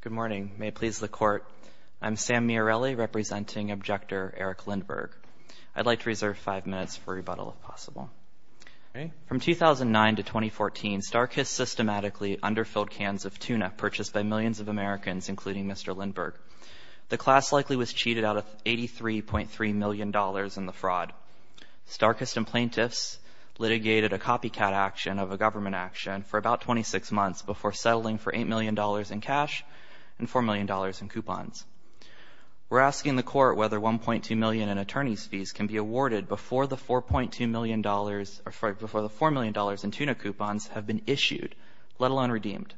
Good morning. May it please the Court, I'm Sam Miarelli, representing Objector Eric Lindberg. I'd like to reserve five minutes for rebuttal, if possible. From 2009 to 2014, Starkist systematically underfilled cans of tuna purchased by millions of Americans, including Mr. Lindberg. The class likely was cheated out of $83.3 million in the fraud. Starkist and plaintiffs litigated a copycat action of a government action for about 26 months before settling for $8 million in cash and $4 million in coupons. We're asking the Court whether $1.2 million in attorney's fees can be awarded before the $4 million in tuna coupons have been issued, let alone redeemed.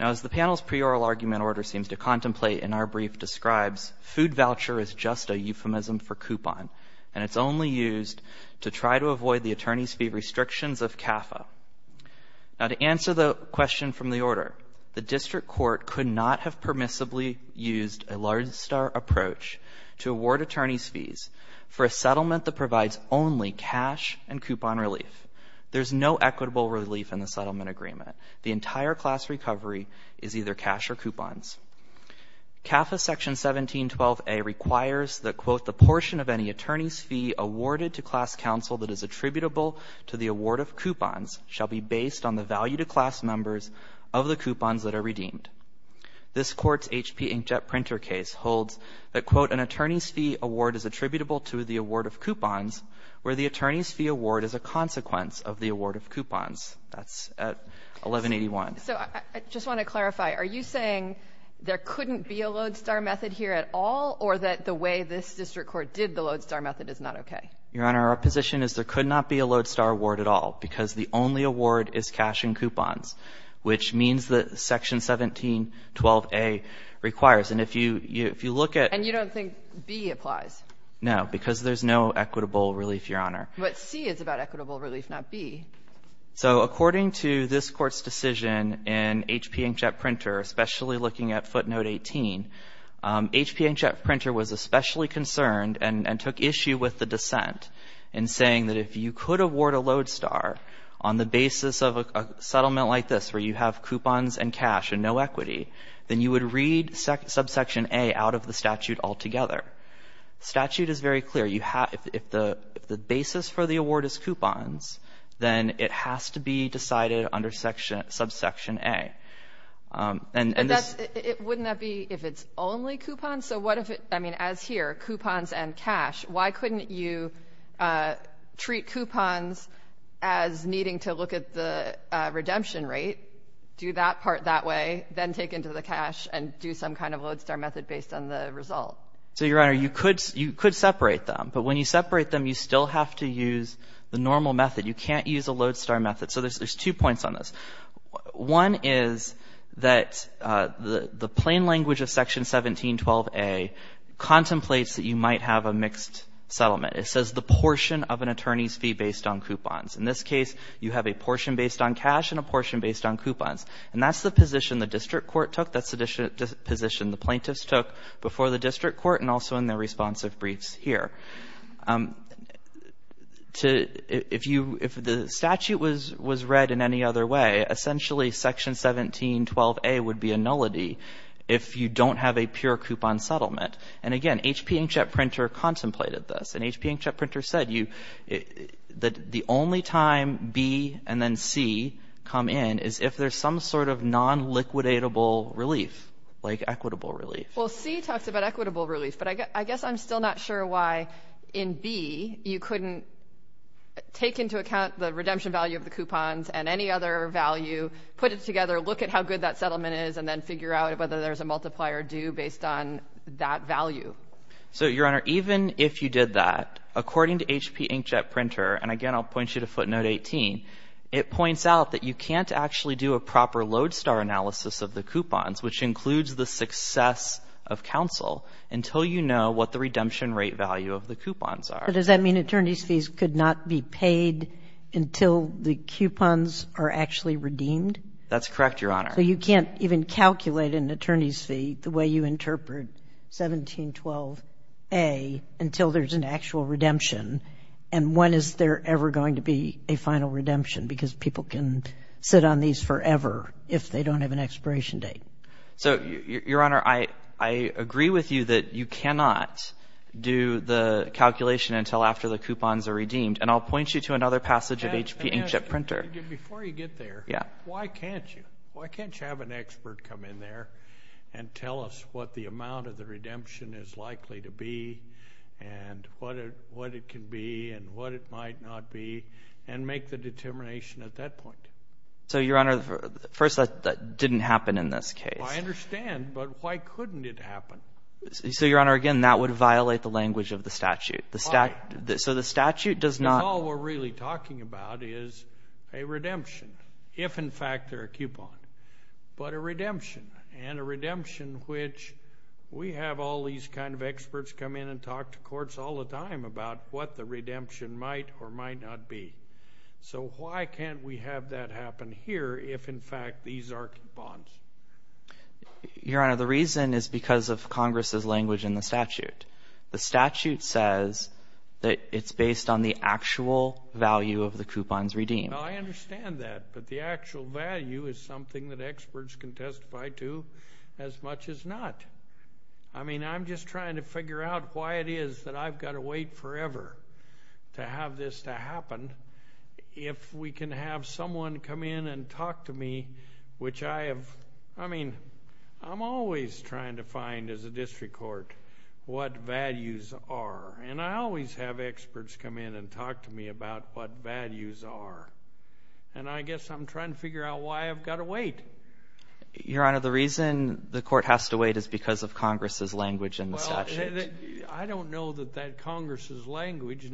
Now, as the panel's pre-oral argument order seems to contemplate in our brief describes, food voucher is just a euphemism for coupon, and it's only used to try to avoid the attorney's fee restrictions of CAFA. Now, to answer the question from the order, the district court could not have permissibly used a large star approach to award attorney's fees for a settlement that provides only cash and coupon relief. There's no equitable relief in the settlement agreement. The entire class recovery is either cash or coupons. CAFA Section 1712a requires that, quote, the portion of any attorney's fee awarded to class counsel that is attributable to the award of coupons shall be based on the value to class members of the coupons that are redeemed. This Court's H.P. Inkjet Printer case holds that, quote, an attorney's fee award is attributable to the award of coupons where the attorney's fee award is a consequence of the award of coupons. That's at 1181. So I just want to clarify. Are you saying there couldn't be a lodestar method here at all or that the way this district court did the lodestar method is not okay? Your Honor, our position is there could not be a lodestar award at all because the only award is cash and coupons, which means that Section 1712a requires. And if you look at the… And you don't think B applies? No, because there's no equitable relief, Your Honor. But C is about equitable relief, not B. So according to this Court's decision in H.P. Inkjet Printer, especially looking at footnote 18, H.P. Inkjet Printer was especially concerned and took issue with the dissent in saying that if you could award a lodestar on the basis of a settlement like this where you have coupons and cash and no equity, then you would read subsection A out of the statute altogether. The statute is very clear. If the basis for the award is coupons, then it has to be decided under subsection A. And this… Wouldn't that be if it's only coupons? So what if it's, I mean, as here, coupons and cash, why couldn't you treat coupons as needing to look at the redemption rate, do that part that way, then take into the cash and do some kind of lodestar method based on the result? So, Your Honor, you could separate them. But when you separate them, you still have to use the normal method. You can't use a lodestar method. So there's two points on this. One is that the plain language of Section 1712A contemplates that you might have a mixed settlement. It says the portion of an attorney's fee based on coupons. In this case, you have a portion based on cash and a portion based on coupons. And that's the position the district court took. That's the position the plaintiffs took before the district court and also in their responsive briefs here. If the statute was read in any other way, essentially Section 1712A would be a nullity if you don't have a pure coupon settlement. And again, H.P. Inkjet Printer contemplated this. And H.P. Inkjet Printer said that the only time B and then C come in is if there's some sort of non-liquidatable relief, like equitable relief. Well, C talks about equitable relief, but I guess I'm still not sure why in B you couldn't take into account the redemption value of the coupons and any other value, put it together, look at how good that settlement is, and then figure out whether there's a multiplier due based on that value. So, Your Honor, even if you did that, according to H.P. Inkjet Printer, and again I'll point you to footnote 18, it points out that you can't actually do a proper lodestar analysis of the coupons, which includes the success of counsel, until you know what the redemption rate value of the coupons are. But does that mean attorney's fees could not be paid until the coupons are actually redeemed? That's correct, Your Honor. So you can't even calculate an attorney's fee the way you interpret 1712A until there's an actual redemption? And when is there ever going to be a final redemption? Because people can sit on these forever if they don't have an expiration date. So, Your Honor, I agree with you that you cannot do the calculation until after the coupons are redeemed, and I'll point you to another passage of H.P. Inkjet Printer. Before you get there, why can't you? Why can't you have an expert come in there and tell us what the amount of the redemption is likely to be and what it can be and what it might not be and make the determination at that point? So, Your Honor, first, that didn't happen in this case. I understand, but why couldn't it happen? So, Your Honor, again, that would violate the language of the statute. Why? So the statute does not… Because all we're really talking about is a redemption, if in fact they're a coupon, but a redemption, and a redemption which we have all these kind of experts come in and talk to courts all the time about what the redemption might or might not be. So why can't we have that happen here if, in fact, these are coupons? Your Honor, the reason is because of Congress's language in the statute. The statute says that it's based on the actual value of the coupons redeemed. I understand that, but the actual value is something that experts can testify to as much as not. I mean, I'm just trying to figure out why it is that I've got to wait forever to have this to happen if we can have someone come in and talk to me, which I have… I mean, I'm always trying to find, as a district court, what values are, and I always have experts come in and talk to me about what values are, and I guess I'm trying to figure out why I've got to wait. Your Honor, the reason the court has to wait is because of Congress's language in the statute. I don't know that that Congress's language…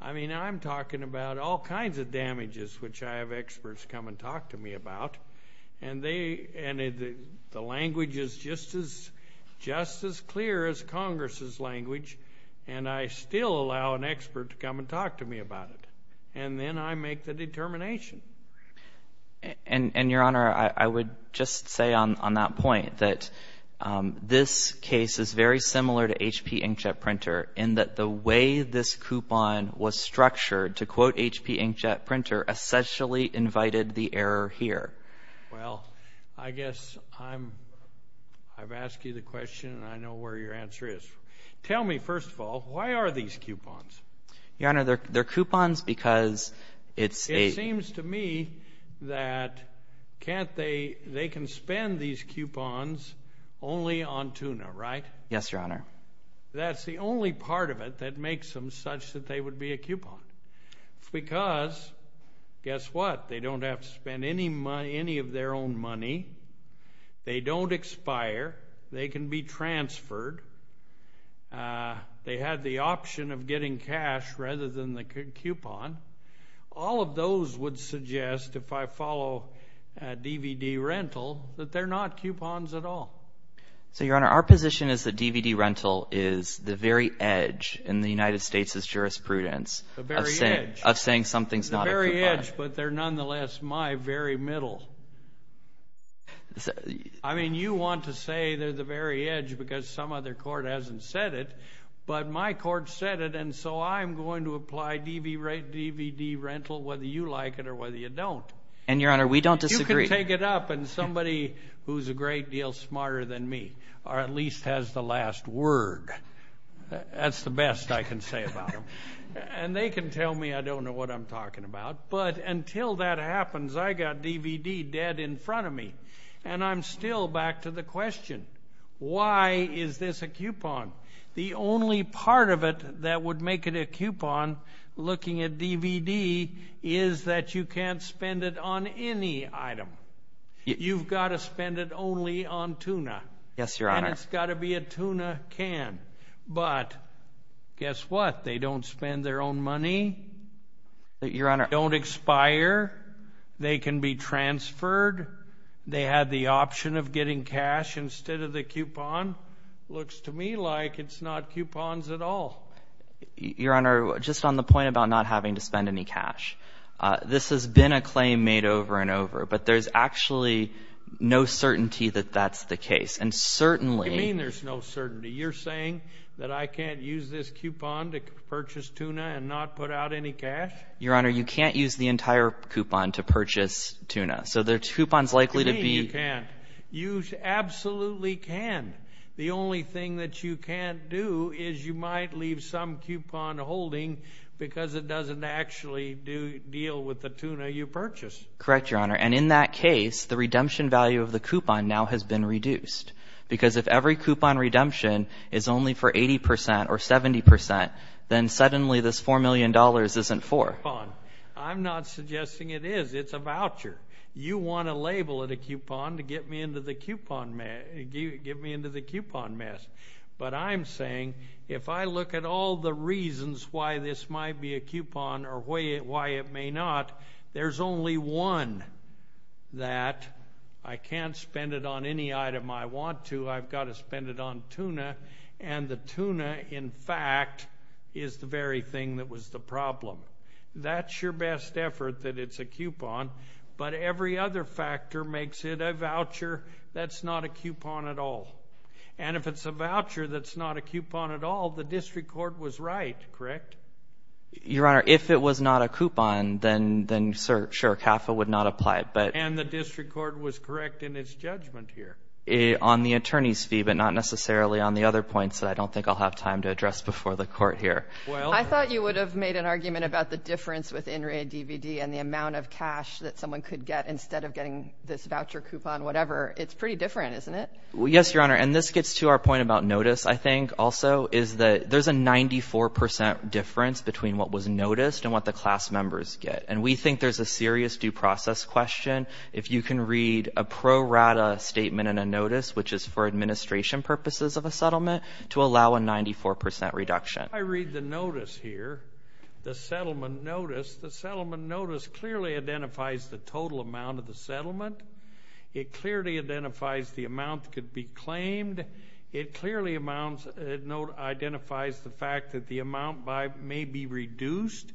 I mean, I'm talking about all kinds of damages, which I have experts come and talk to me about, and the language is just as clear as Congress's language, and I still allow an expert to come and talk to me about it, and then I make the determination. And, Your Honor, I would just say on that point that this case is very similar to H.P. Inkjet Printer in that the way this coupon was structured to quote H.P. Inkjet Printer essentially invited the error here. Well, I guess I've asked you the question, and I know where your answer is. Tell me, first of all, why are these coupons? Your Honor, they're coupons because it's a… It seems to me that they can spend these coupons only on tuna, right? Yes, Your Honor. That's the only part of it that makes them such that they would be a coupon. It's because, guess what, they don't have to spend any of their own money. They don't expire. They can be transferred. They have the option of getting cash rather than the coupon. All of those would suggest, if I follow DVD rental, that they're not coupons at all. So, Your Honor, our position is that DVD rental is the very edge in the United States' jurisprudence… The very edge. …of saying something's not a coupon. The very edge, but they're nonetheless my very middle. I mean, you want to say they're the very edge because some other court hasn't said it, but my court said it, and so I'm going to apply DVD rental whether you like it or whether you don't. And, Your Honor, we don't disagree. You can take it up, and somebody who's a great deal smarter than me at least has the last word. That's the best I can say about them. And they can tell me I don't know what I'm talking about. But until that happens, I got DVD dead in front of me, and I'm still back to the question. Why is this a coupon? The only part of it that would make it a coupon, looking at DVD, is that you can't spend it on any item. You've got to spend it only on tuna. Yes, Your Honor. And it's got to be a tuna can. But guess what? They don't spend their own money. Your Honor. They don't expire. They can be transferred. They have the option of getting cash instead of the coupon. The coupon looks to me like it's not coupons at all. Your Honor, just on the point about not having to spend any cash, this has been a claim made over and over. But there's actually no certainty that that's the case. And certainly – What do you mean there's no certainty? You're saying that I can't use this coupon to purchase tuna and not put out any cash? Your Honor, you can't use the entire coupon to purchase tuna. So the coupon's likely to be – You can. You absolutely can. The only thing that you can't do is you might leave some coupon holding because it doesn't actually deal with the tuna you purchased. Correct, Your Honor. And in that case, the redemption value of the coupon now has been reduced because if every coupon redemption is only for 80 percent or 70 percent, then suddenly this $4 million isn't for. I'm not suggesting it is. It's a voucher. You want to label it a coupon to get me into the coupon mess. But I'm saying if I look at all the reasons why this might be a coupon or why it may not, there's only one that I can't spend it on any item I want to. I've got to spend it on tuna. And the tuna, in fact, is the very thing that was the problem. That's your best effort that it's a coupon. But every other factor makes it a voucher that's not a coupon at all. And if it's a voucher that's not a coupon at all, the district court was right. Correct? Your Honor, if it was not a coupon, then, sure, CAFA would not apply it. And the district court was correct in its judgment here. On the attorney's fee, but not necessarily on the other points that I don't think I'll have time to address before the court here. I thought you would have made an argument about the difference with NRA DVD and the amount of cash that someone could get instead of getting this voucher coupon, whatever. It's pretty different, isn't it? Yes, Your Honor, and this gets to our point about notice, I think, also, is that there's a 94% difference between what was noticed and what the class members get. And we think there's a serious due process question. If you can read a pro rata statement in a notice, which is for administration purposes of a settlement, to allow a 94% reduction. I read the notice here, the settlement notice. The settlement notice clearly identifies the total amount of the settlement. It clearly identifies the amount that could be claimed. It clearly identifies the fact that the amount may be reduced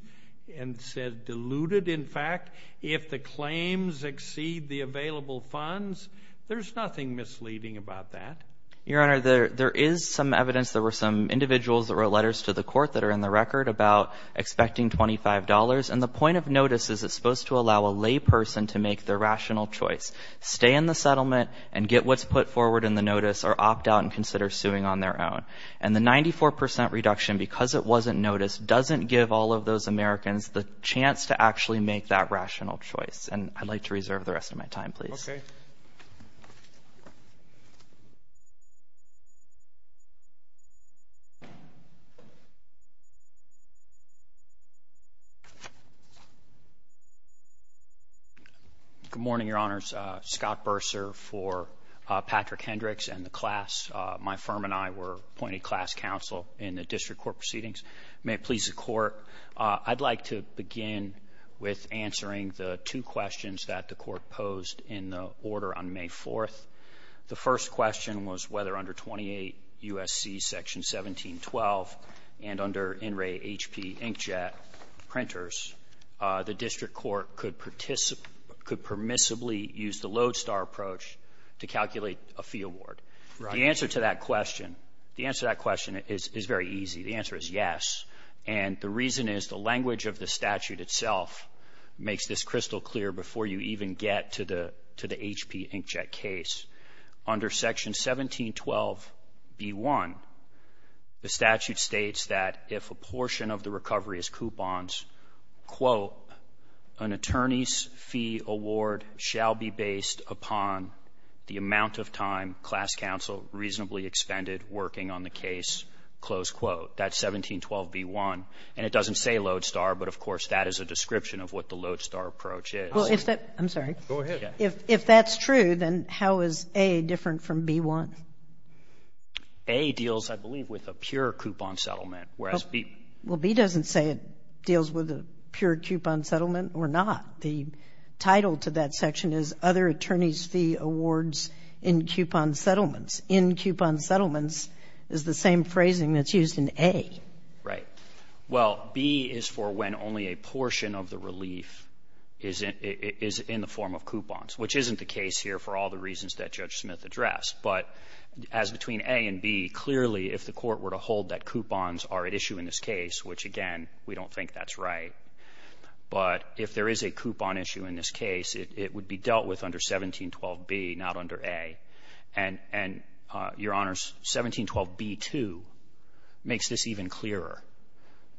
and said diluted. In fact, if the claims exceed the available funds, there's nothing misleading about that. Your Honor, there is some evidence. There were some individuals that wrote letters to the court that are in the record about expecting $25. And the point of notice is it's supposed to allow a lay person to make their rational choice, stay in the settlement and get what's put forward in the notice or opt out and consider suing on their own. And the 94% reduction, because it wasn't noticed, doesn't give all of those Americans the chance to actually make that rational choice. And I'd like to reserve the rest of my time, please. Okay. Good morning, Your Honors. Scott Bursar for Patrick Hendricks and the class. My firm and I were appointed class counsel in the district court proceedings. May it please the court, I'd like to begin with answering the two questions that the court posed in the order on May 4th. The first question was whether under 28 U.S.C. Section 1712 and under NRA HP inkjet printers, the district court could participate or could permissibly use the lodestar approach to calculate a fee award. The answer to that question, the answer to that question is very easy. The answer is yes. And the reason is the language of the statute itself makes this crystal clear before you even get to the HP inkjet case. Under Section 1712B1, the statute states that if a portion of the recovery is coupons, quote, an attorney's fee award shall be based upon the amount of time class counsel reasonably expended working on the case, close quote. That's 1712B1. And it doesn't say lodestar, but, of course, that is a description of what the lodestar approach is. I'm sorry. Go ahead. If that's true, then how is A different from B1? A deals, I believe, with a pure coupon settlement, whereas B. Well, B doesn't say it deals with a pure coupon settlement or not. The title to that section is Other Attorney's Fee Awards in Coupon Settlements. In Coupon Settlements is the same phrasing that's used in A. Right. Well, B is for when only a portion of the relief is in the form of coupons, which isn't the case here for all the reasons that Judge Smith addressed. But as between A and B, clearly, if the Court were to hold that coupons are at issue in this case, which, again, we don't think that's right, but if there is a coupon issue in this case, it would be dealt with under 1712B, not under A. And, Your Honors, 1712B2 makes this even clearer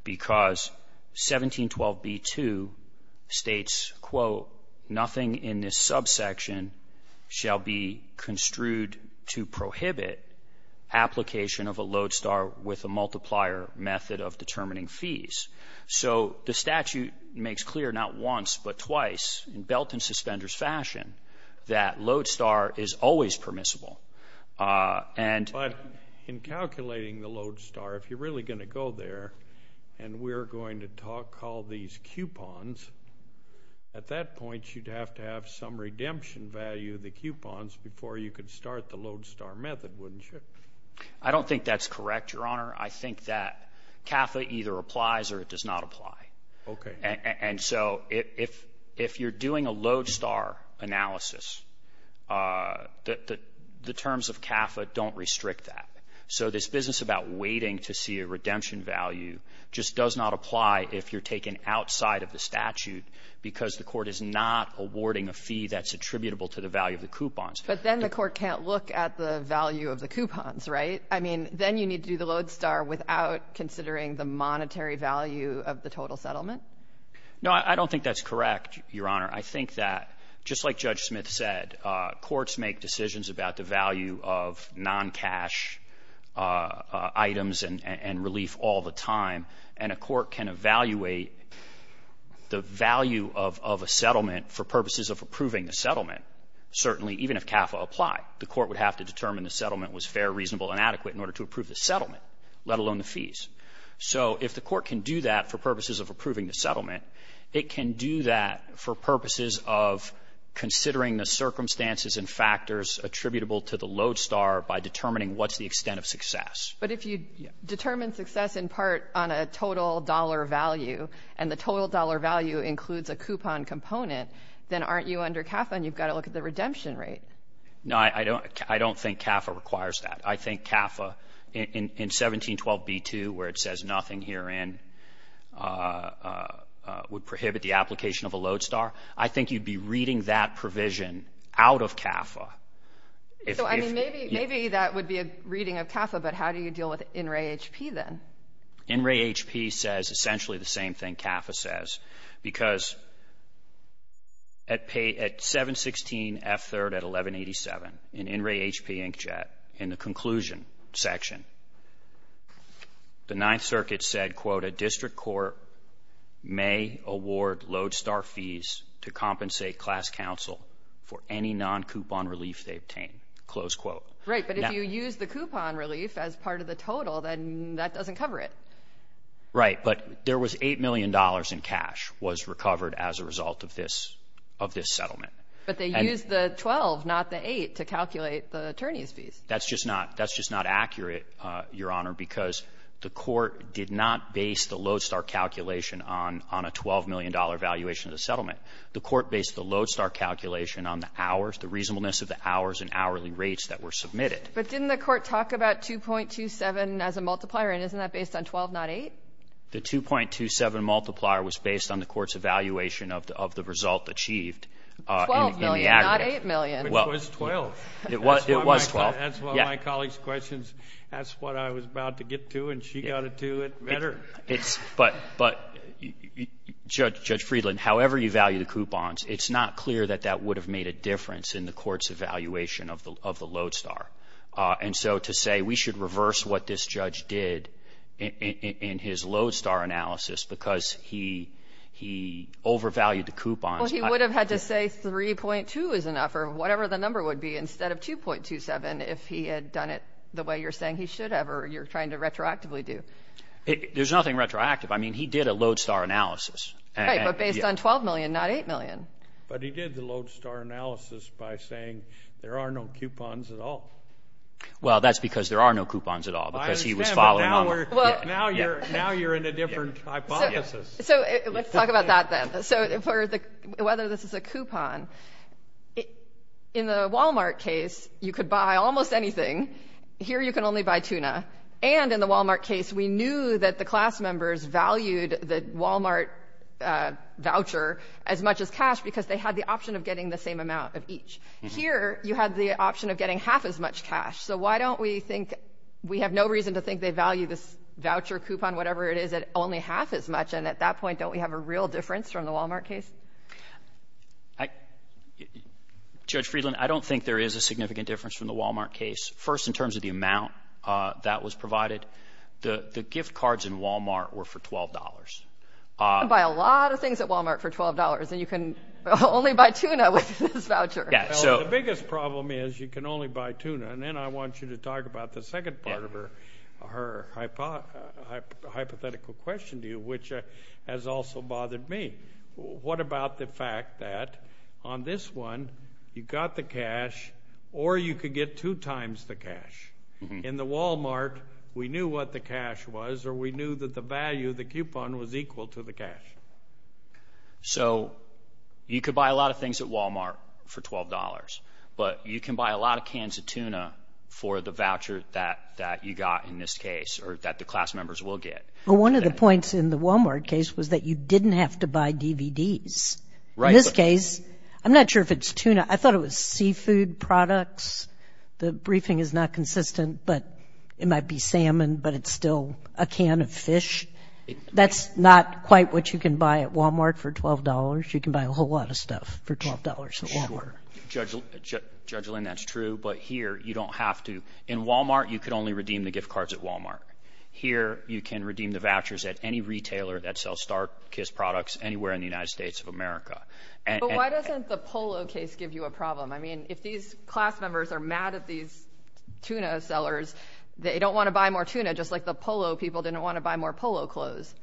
because 1712B2 states, quote, nothing in this subsection shall be construed to prohibit application of a lodestar with a multiplier method of determining fees. So the statute makes clear not once but twice in Belt and Suspenders fashion that lodestar is always permissible. But in calculating the lodestar, if you're really going to go there and we're going to call these coupons, at that point you'd have to have some redemption value of the coupons before you could start the lodestar method, wouldn't you? I don't think that's correct, Your Honor. I think that CAFA either applies or it does not apply. Okay. And so if you're doing a lodestar analysis, the terms of CAFA don't restrict that. So this business about waiting to see a redemption value just does not apply if you're taken outside of the statute because the Court is not awarding a fee that's attributable to the value of the coupons. But then the Court can't look at the value of the coupons, right? I mean, then you need to do the lodestar without considering the monetary value of the total settlement. No, I don't think that's correct, Your Honor. I think that just like Judge Smith said, courts make decisions about the value of non-cash items and relief all the time. And a court can evaluate the value of a settlement for purposes of approving the settlement, certainly, even if CAFA apply. The court would have to determine the settlement was fair, reasonable, and adequate in order to approve the settlement, let alone the fees. So if the court can do that for purposes of approving the settlement, it can do that for purposes of considering the circumstances and factors attributable to the lodestar by determining what's the extent of success. But if you determine success in part on a total dollar value and the total dollar value includes a coupon component, then aren't you under CAFA and you've got to look at the redemption rate? No, I don't think CAFA requires that. I think CAFA in 1712b2 where it says nothing herein would prohibit the application of a lodestar. I think you'd be reading that provision out of CAFA. So, I mean, maybe that would be a reading of CAFA, but how do you deal with NRAHP then? NRAHP says essentially the same thing CAFA says because at 716 F3rd at 1187, in NRAHP inkjet, in the conclusion section, the Ninth Circuit said, quote, a district court may award lodestar fees to compensate class counsel for any non-coupon relief they obtain, close quote. Right, but if you use the coupon relief as part of the total, then that doesn't cover it. Right, but there was $8 million in cash was recovered as a result of this settlement. But they used the 12, not the 8, to calculate the attorney's fees. That's just not accurate, Your Honor, because the court did not base the lodestar calculation on a $12 million valuation of the settlement. The court based the lodestar calculation on the hours, the reasonableness of the hours and hourly rates that were submitted. But didn't the court talk about 2.27 as a multiplier, and isn't that based on 12, not 8? The 2.27 multiplier was based on the court's evaluation of the result achieved in the aggregate. 12 million, not 8 million. It was 12. It was 12. That's why my colleague's questions, that's what I was about to get to, and she got it to it better. But, Judge Friedland, however you value the coupons, it's not clear that that would have made a difference in the court's evaluation of the lodestar. And so to say we should reverse what this judge did in his lodestar analysis because he overvalued the coupons. Well, he would have had to say 3.2 is enough or whatever the number would be instead of 2.27 if he had done it the way you're saying he should have or you're trying to retroactively do. There's nothing retroactive. I mean, he did a lodestar analysis. Right, but based on 12 million, not 8 million. But he did the lodestar analysis by saying there are no coupons at all. Well, that's because there are no coupons at all because he was following up. I understand, but now you're in a different hypothesis. So let's talk about that then. So whether this is a coupon, in the Walmart case, you could buy almost anything. Here you can only buy tuna. And in the Walmart case, we knew that the class members valued the Walmart voucher as much as cash because they had the option of getting the same amount of each. Here you had the option of getting half as much cash. So why don't we think we have no reason to think they value this voucher, coupon, whatever it is at only half as much. And at that point, don't we have a real difference from the Walmart case? Judge Friedland, I don't think there is a significant difference from the Walmart case. First, in terms of the amount that was provided, the gift cards in Walmart were for $12. You can buy a lot of things at Walmart for $12, and you can only buy tuna with this voucher. The biggest problem is you can only buy tuna. And then I want you to talk about the second part of her hypothetical question to you, which has also bothered me. What about the fact that on this one you got the cash or you could get two times the cash? In the Walmart, we knew what the cash was or we knew that the value of the coupon was equal to the cash. So you could buy a lot of things at Walmart for $12, but you can buy a lot of cans of tuna for the voucher that you got in this case or that the class members will get. Well, one of the points in the Walmart case was that you didn't have to buy DVDs. In this case, I'm not sure if it's tuna. I thought it was seafood products. The briefing is not consistent, but it might be salmon, but it's still a can of fish. That's not quite what you can buy at Walmart for $12. You can buy a whole lot of stuff for $12 at Walmart. Sure. Judge Lynn, that's true, but here you don't have to. In Walmart, you could only redeem the gift cards at Walmart. Here you can redeem the vouchers at any retailer that sells Star Kiss products anywhere in the United States of America. But why doesn't the Polo case give you a problem? I mean, if these class members are mad at these tuna sellers, they don't want to buy more tuna just like the Polo people didn't want to buy more Polo clothes.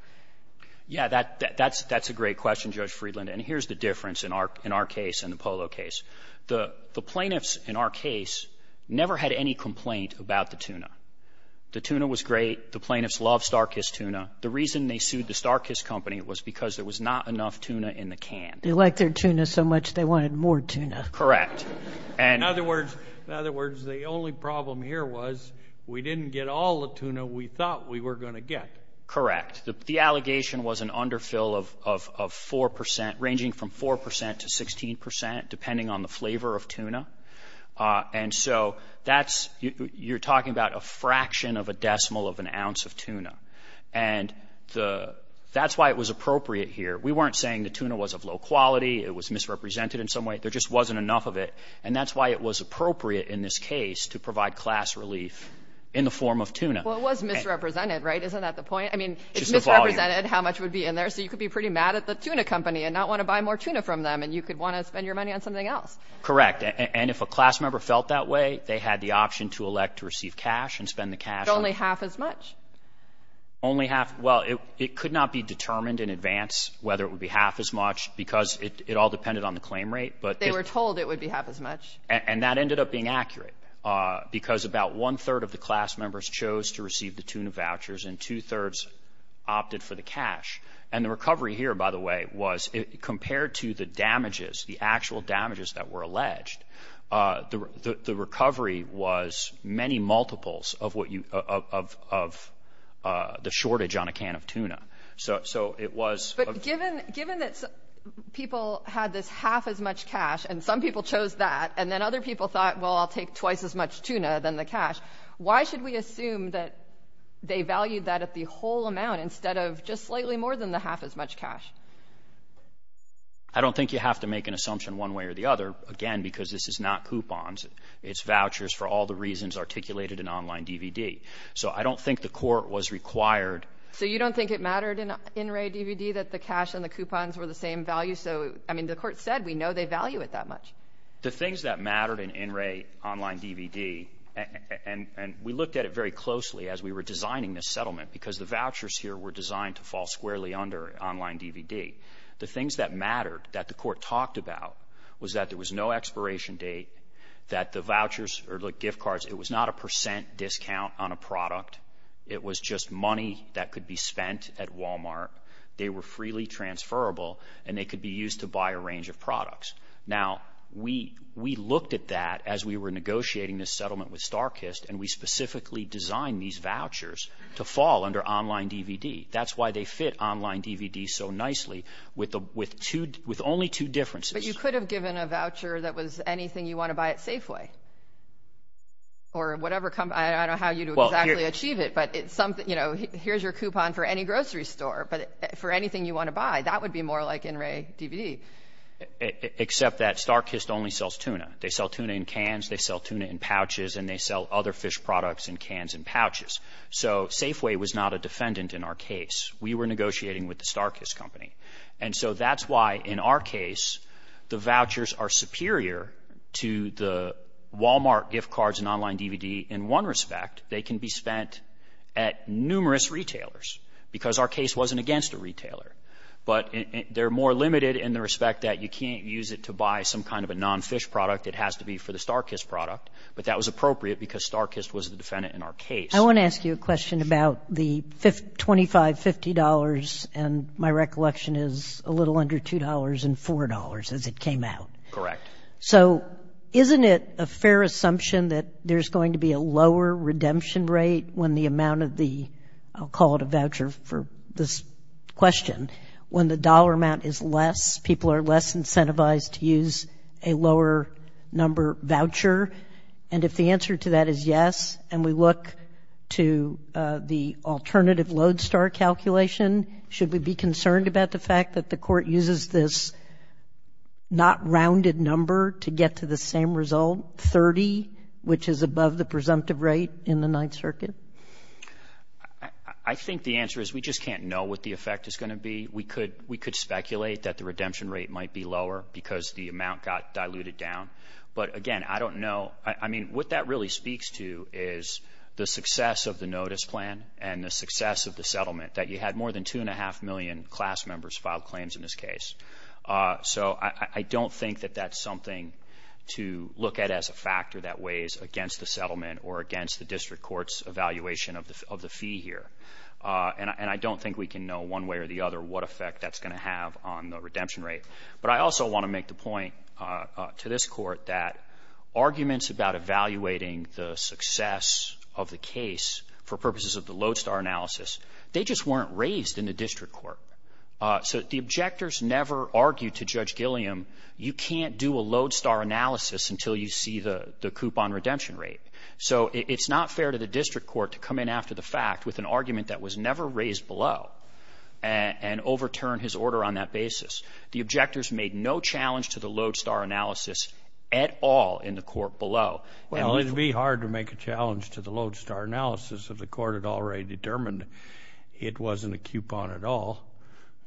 Yeah, that's a great question, Judge Friedland, and here's the difference in our case and the Polo case. The plaintiffs in our case never had any complaint about the tuna. The tuna was great. The plaintiffs loved Star Kiss tuna. The reason they sued the Star Kiss company was because there was not enough tuna in the can. They liked their tuna so much they wanted more tuna. Correct. In other words, the only problem here was we didn't get all the tuna we thought we were going to get. Correct. The allegation was an underfill of 4%, ranging from 4% to 16%, depending on the flavor of tuna. And so that's you're talking about a fraction of a decimal of an ounce of tuna, and that's why it was appropriate here. We weren't saying the tuna was of low quality. It was misrepresented in some way. There just wasn't enough of it, and that's why it was appropriate in this case to provide class relief in the form of tuna. Well, it was misrepresented, right? Isn't that the point? I mean, it's misrepresented how much would be in there, so you could be pretty mad at the tuna company and not want to buy more tuna from them, and you could want to spend your money on something else. Correct. And if a class member felt that way, they had the option to elect to receive cash and spend the cash. But only half as much. Only half. Well, it could not be determined in advance whether it would be half as much because it all depended on the claim rate. They were told it would be half as much. And that ended up being accurate because about one-third of the class members chose to receive the tuna vouchers and two-thirds opted for the cash. And the recovery here, by the way, was compared to the damages, the actual damages that were alleged, the recovery was many multiples of the shortage on a can of tuna. But given that people had this half as much cash and some people chose that and then other people thought, well, I'll take twice as much tuna than the cash, why should we assume that they valued that at the whole amount instead of just slightly more than the half as much cash? I don't think you have to make an assumption one way or the other, again, because this is not coupons. It's vouchers for all the reasons articulated in online DVD. So I don't think the court was required. So you don't think it mattered in in-ray DVD that the cash and the coupons were the same value? So, I mean, the court said we know they value it that much. The things that mattered in in-ray online DVD, and we looked at it very closely as we were designing this settlement because the vouchers here were designed to fall squarely under online DVD, the things that mattered that the court talked about was that there was no expiration date, that the vouchers or the gift cards, it was not a percent discount on a product. It was just money that could be spent at Walmart. They were freely transferable, and they could be used to buy a range of products. Now, we looked at that as we were negotiating this settlement with StarKist, and we specifically designed these vouchers to fall under online DVD. That's why they fit online DVD so nicely with only two differences. But you could have given a voucher that was anything you want to buy at Safeway or whatever company. I don't know how you would exactly achieve it, but here's your coupon for any grocery store, but for anything you want to buy, that would be more like in-ray DVD. Except that StarKist only sells tuna. They sell tuna in cans, they sell tuna in pouches, and they sell other fish products in cans and pouches. So Safeway was not a defendant in our case. We were negotiating with the StarKist company. And so that's why in our case the vouchers are superior to the Walmart gift cards and online DVD in one respect. But they're more limited in the respect that you can't use it to buy some kind of a non-fish product. It has to be for the StarKist product. But that was appropriate because StarKist was the defendant in our case. I want to ask you a question about the $25, $50, and my recollection is a little under $2 and $4 as it came out. Correct. So isn't it a fair assumption that there's going to be a lower redemption rate when the amount of the, I'll call it a voucher for this question, when the dollar amount is less, people are less incentivized to use a lower number voucher? And if the answer to that is yes, and we look to the alternative Lodestar calculation, should we be concerned about the fact that the court uses this not-rounded number to get to the same result, 30, which is above the presumptive rate in the Ninth Circuit? I think the answer is we just can't know what the effect is going to be. We could speculate that the redemption rate might be lower because the amount got diluted down. But, again, I don't know. I mean, what that really speaks to is the success of the notice plan and the success of the settlement, that you had more than 2.5 million class members file claims in this case. So I don't think that that's something to look at as a factor that weighs against the settlement or against the district court's evaluation of the fee here. And I don't think we can know one way or the other what effect that's going to have on the redemption rate. But I also want to make the point to this court that arguments about evaluating the success of the case for purposes of the Lodestar analysis, they just weren't raised in the district court. So the objectors never argued to Judge Gilliam, you can't do a Lodestar analysis until you see the coupon redemption rate. So it's not fair to the district court to come in after the fact with an argument that was never raised below and overturn his order on that basis. The objectors made no challenge to the Lodestar analysis at all in the court below. Well, it would be hard to make a challenge to the Lodestar analysis if the court had already determined it wasn't a coupon at all.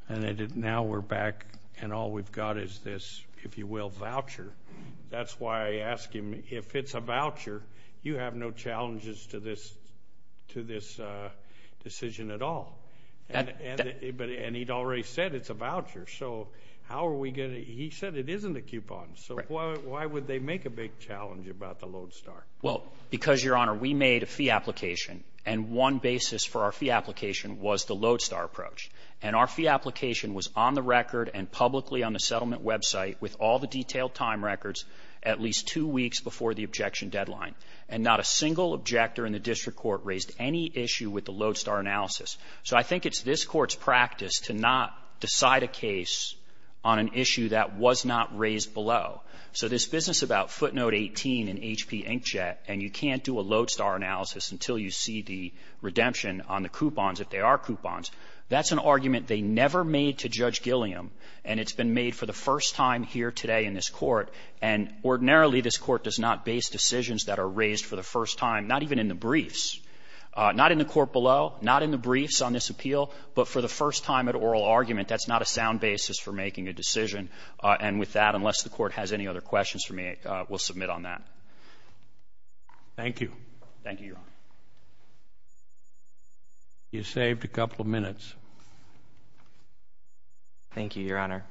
And now we're back and all we've got is this, if you will, voucher. That's why I ask him, if it's a voucher, you have no challenges to this decision at all. And he'd already said it's a voucher. So how are we going to – he said it isn't a coupon. So why would they make a big challenge about the Lodestar? Well, because, Your Honor, we made a fee application, and one basis for our fee application was the Lodestar approach. And our fee application was on the record and publicly on the settlement website with all the detailed time records at least two weeks before the objection deadline. And not a single objector in the district court raised any issue with the Lodestar analysis. So I think it's this court's practice to not decide a case on an issue that was not raised below. So this business about footnote 18 in H.P. Inkjet and you can't do a Lodestar analysis until you see the redemption on the coupons, if they are coupons, that's an argument they never made to Judge Gilliam, and it's been made for the first time here today in this court. And ordinarily this court does not base decisions that are raised for the first time, not even in the briefs, not in the court below, not in the briefs on this appeal, but for the first time at oral argument. That's not a sound basis for making a decision. And with that, unless the court has any other questions for me, we'll submit on that. Thank you. Thank you, Your Honor. You saved a couple of minutes. Thank you, Your Honor.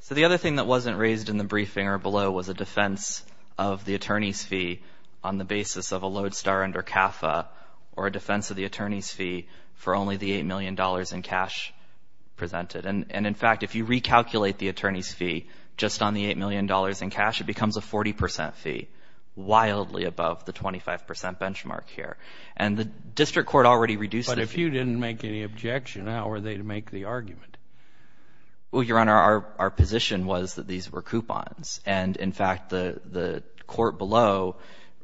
So the other thing that wasn't raised in the briefing or below was a defense of the attorney's fee on the basis of a Lodestar under CAFA or a defense of the attorney's fee for only the $8 million in cash presented. And, in fact, if you recalculate the attorney's fee just on the $8 million in cash, it becomes a 40 percent fee, wildly above the 25 percent benchmark here. And the district court already reduced the fee. But if you didn't make any objection, how were they to make the argument? Well, Your Honor, our position was that these were coupons. And, in fact, the court below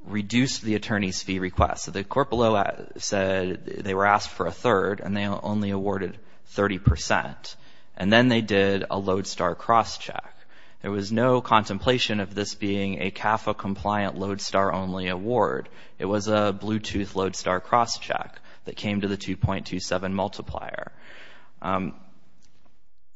reduced the attorney's fee request. So the court below said they were asked for a third, and they only awarded 30 percent. And then they did a Lodestar crosscheck. There was no contemplation of this being a CAFA-compliant Lodestar-only award. It was a Bluetooth Lodestar crosscheck that came to the 2.27 multiplier.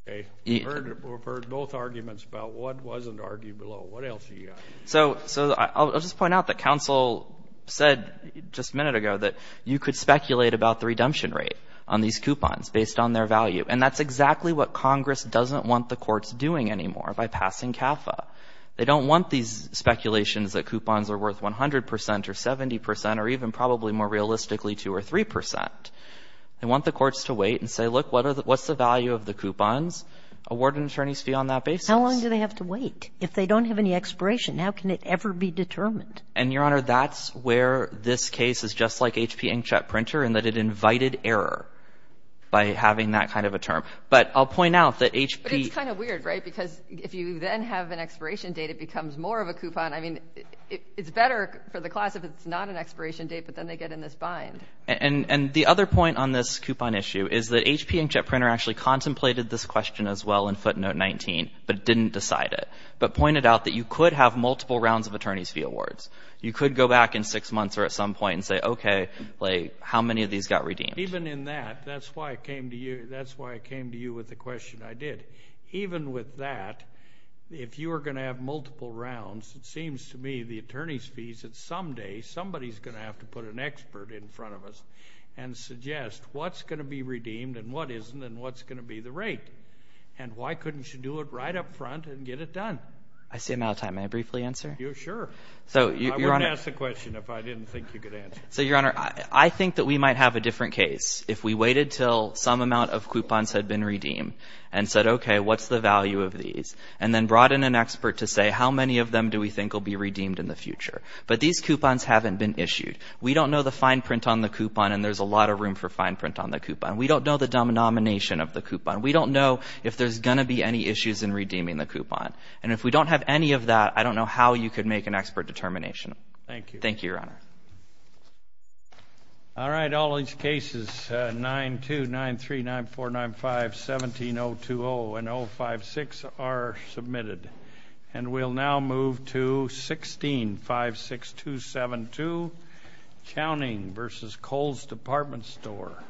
Okay. We've heard both arguments about what wasn't argued below. What else do you got? So I'll just point out that counsel said just a minute ago that you could speculate about the redemption rate on these coupons based on their value. And that's exactly what Congress doesn't want the courts doing anymore by passing CAFA. They don't want these speculations that coupons are worth 100 percent or 70 percent or even probably more realistically 2 or 3 percent. They want the courts to wait and say, look, what's the value of the coupons? Award an attorney's fee on that basis. How long do they have to wait? If they don't have any expiration, how can it ever be determined? And, Your Honor, that's where this case is just like HP inkjet printer in that it invited error by having that kind of a term. But I'll point out that HP – But it's kind of weird, right? Because if you then have an expiration date, it becomes more of a coupon. I mean, it's better for the class if it's not an expiration date, but then they get in this bind. And the other point on this coupon issue is that HP inkjet printer actually contemplated this question as well in footnote 19, but didn't decide it, but pointed out that you could have multiple rounds of attorney's fee awards. You could go back in six months or at some point and say, okay, how many of these got redeemed? Even in that, that's why I came to you with the question I did. Even with that, if you were going to have multiple rounds, it seems to me the attorney's fees, that someday somebody is going to have to put an expert in front of us and suggest what's going to be redeemed and what isn't and what's going to be the rate and why couldn't you do it right up front and get it done? I see I'm out of time. May I briefly answer? Sure. I wouldn't ask the question if I didn't think you could answer it. So, Your Honor, I think that we might have a different case. If we waited until some amount of coupons had been redeemed and said, okay, what's the value of these, and then brought in an expert to say, how many of them do we think will be redeemed in the future? But these coupons haven't been issued. We don't know the fine print on the coupon, and there's a lot of room for fine print on the coupon. We don't know the denomination of the coupon. We don't know if there's going to be any issues in redeeming the coupon. And if we don't have any of that, I don't know how you could make an expert determination. Thank you. Thank you, Your Honor. All right. All these cases, 9-2, 9-3, 9-4, 9-5, 17-020, and 0-5-6 are submitted. And we'll now move to 16-56272, Counting v. Coles Department Store.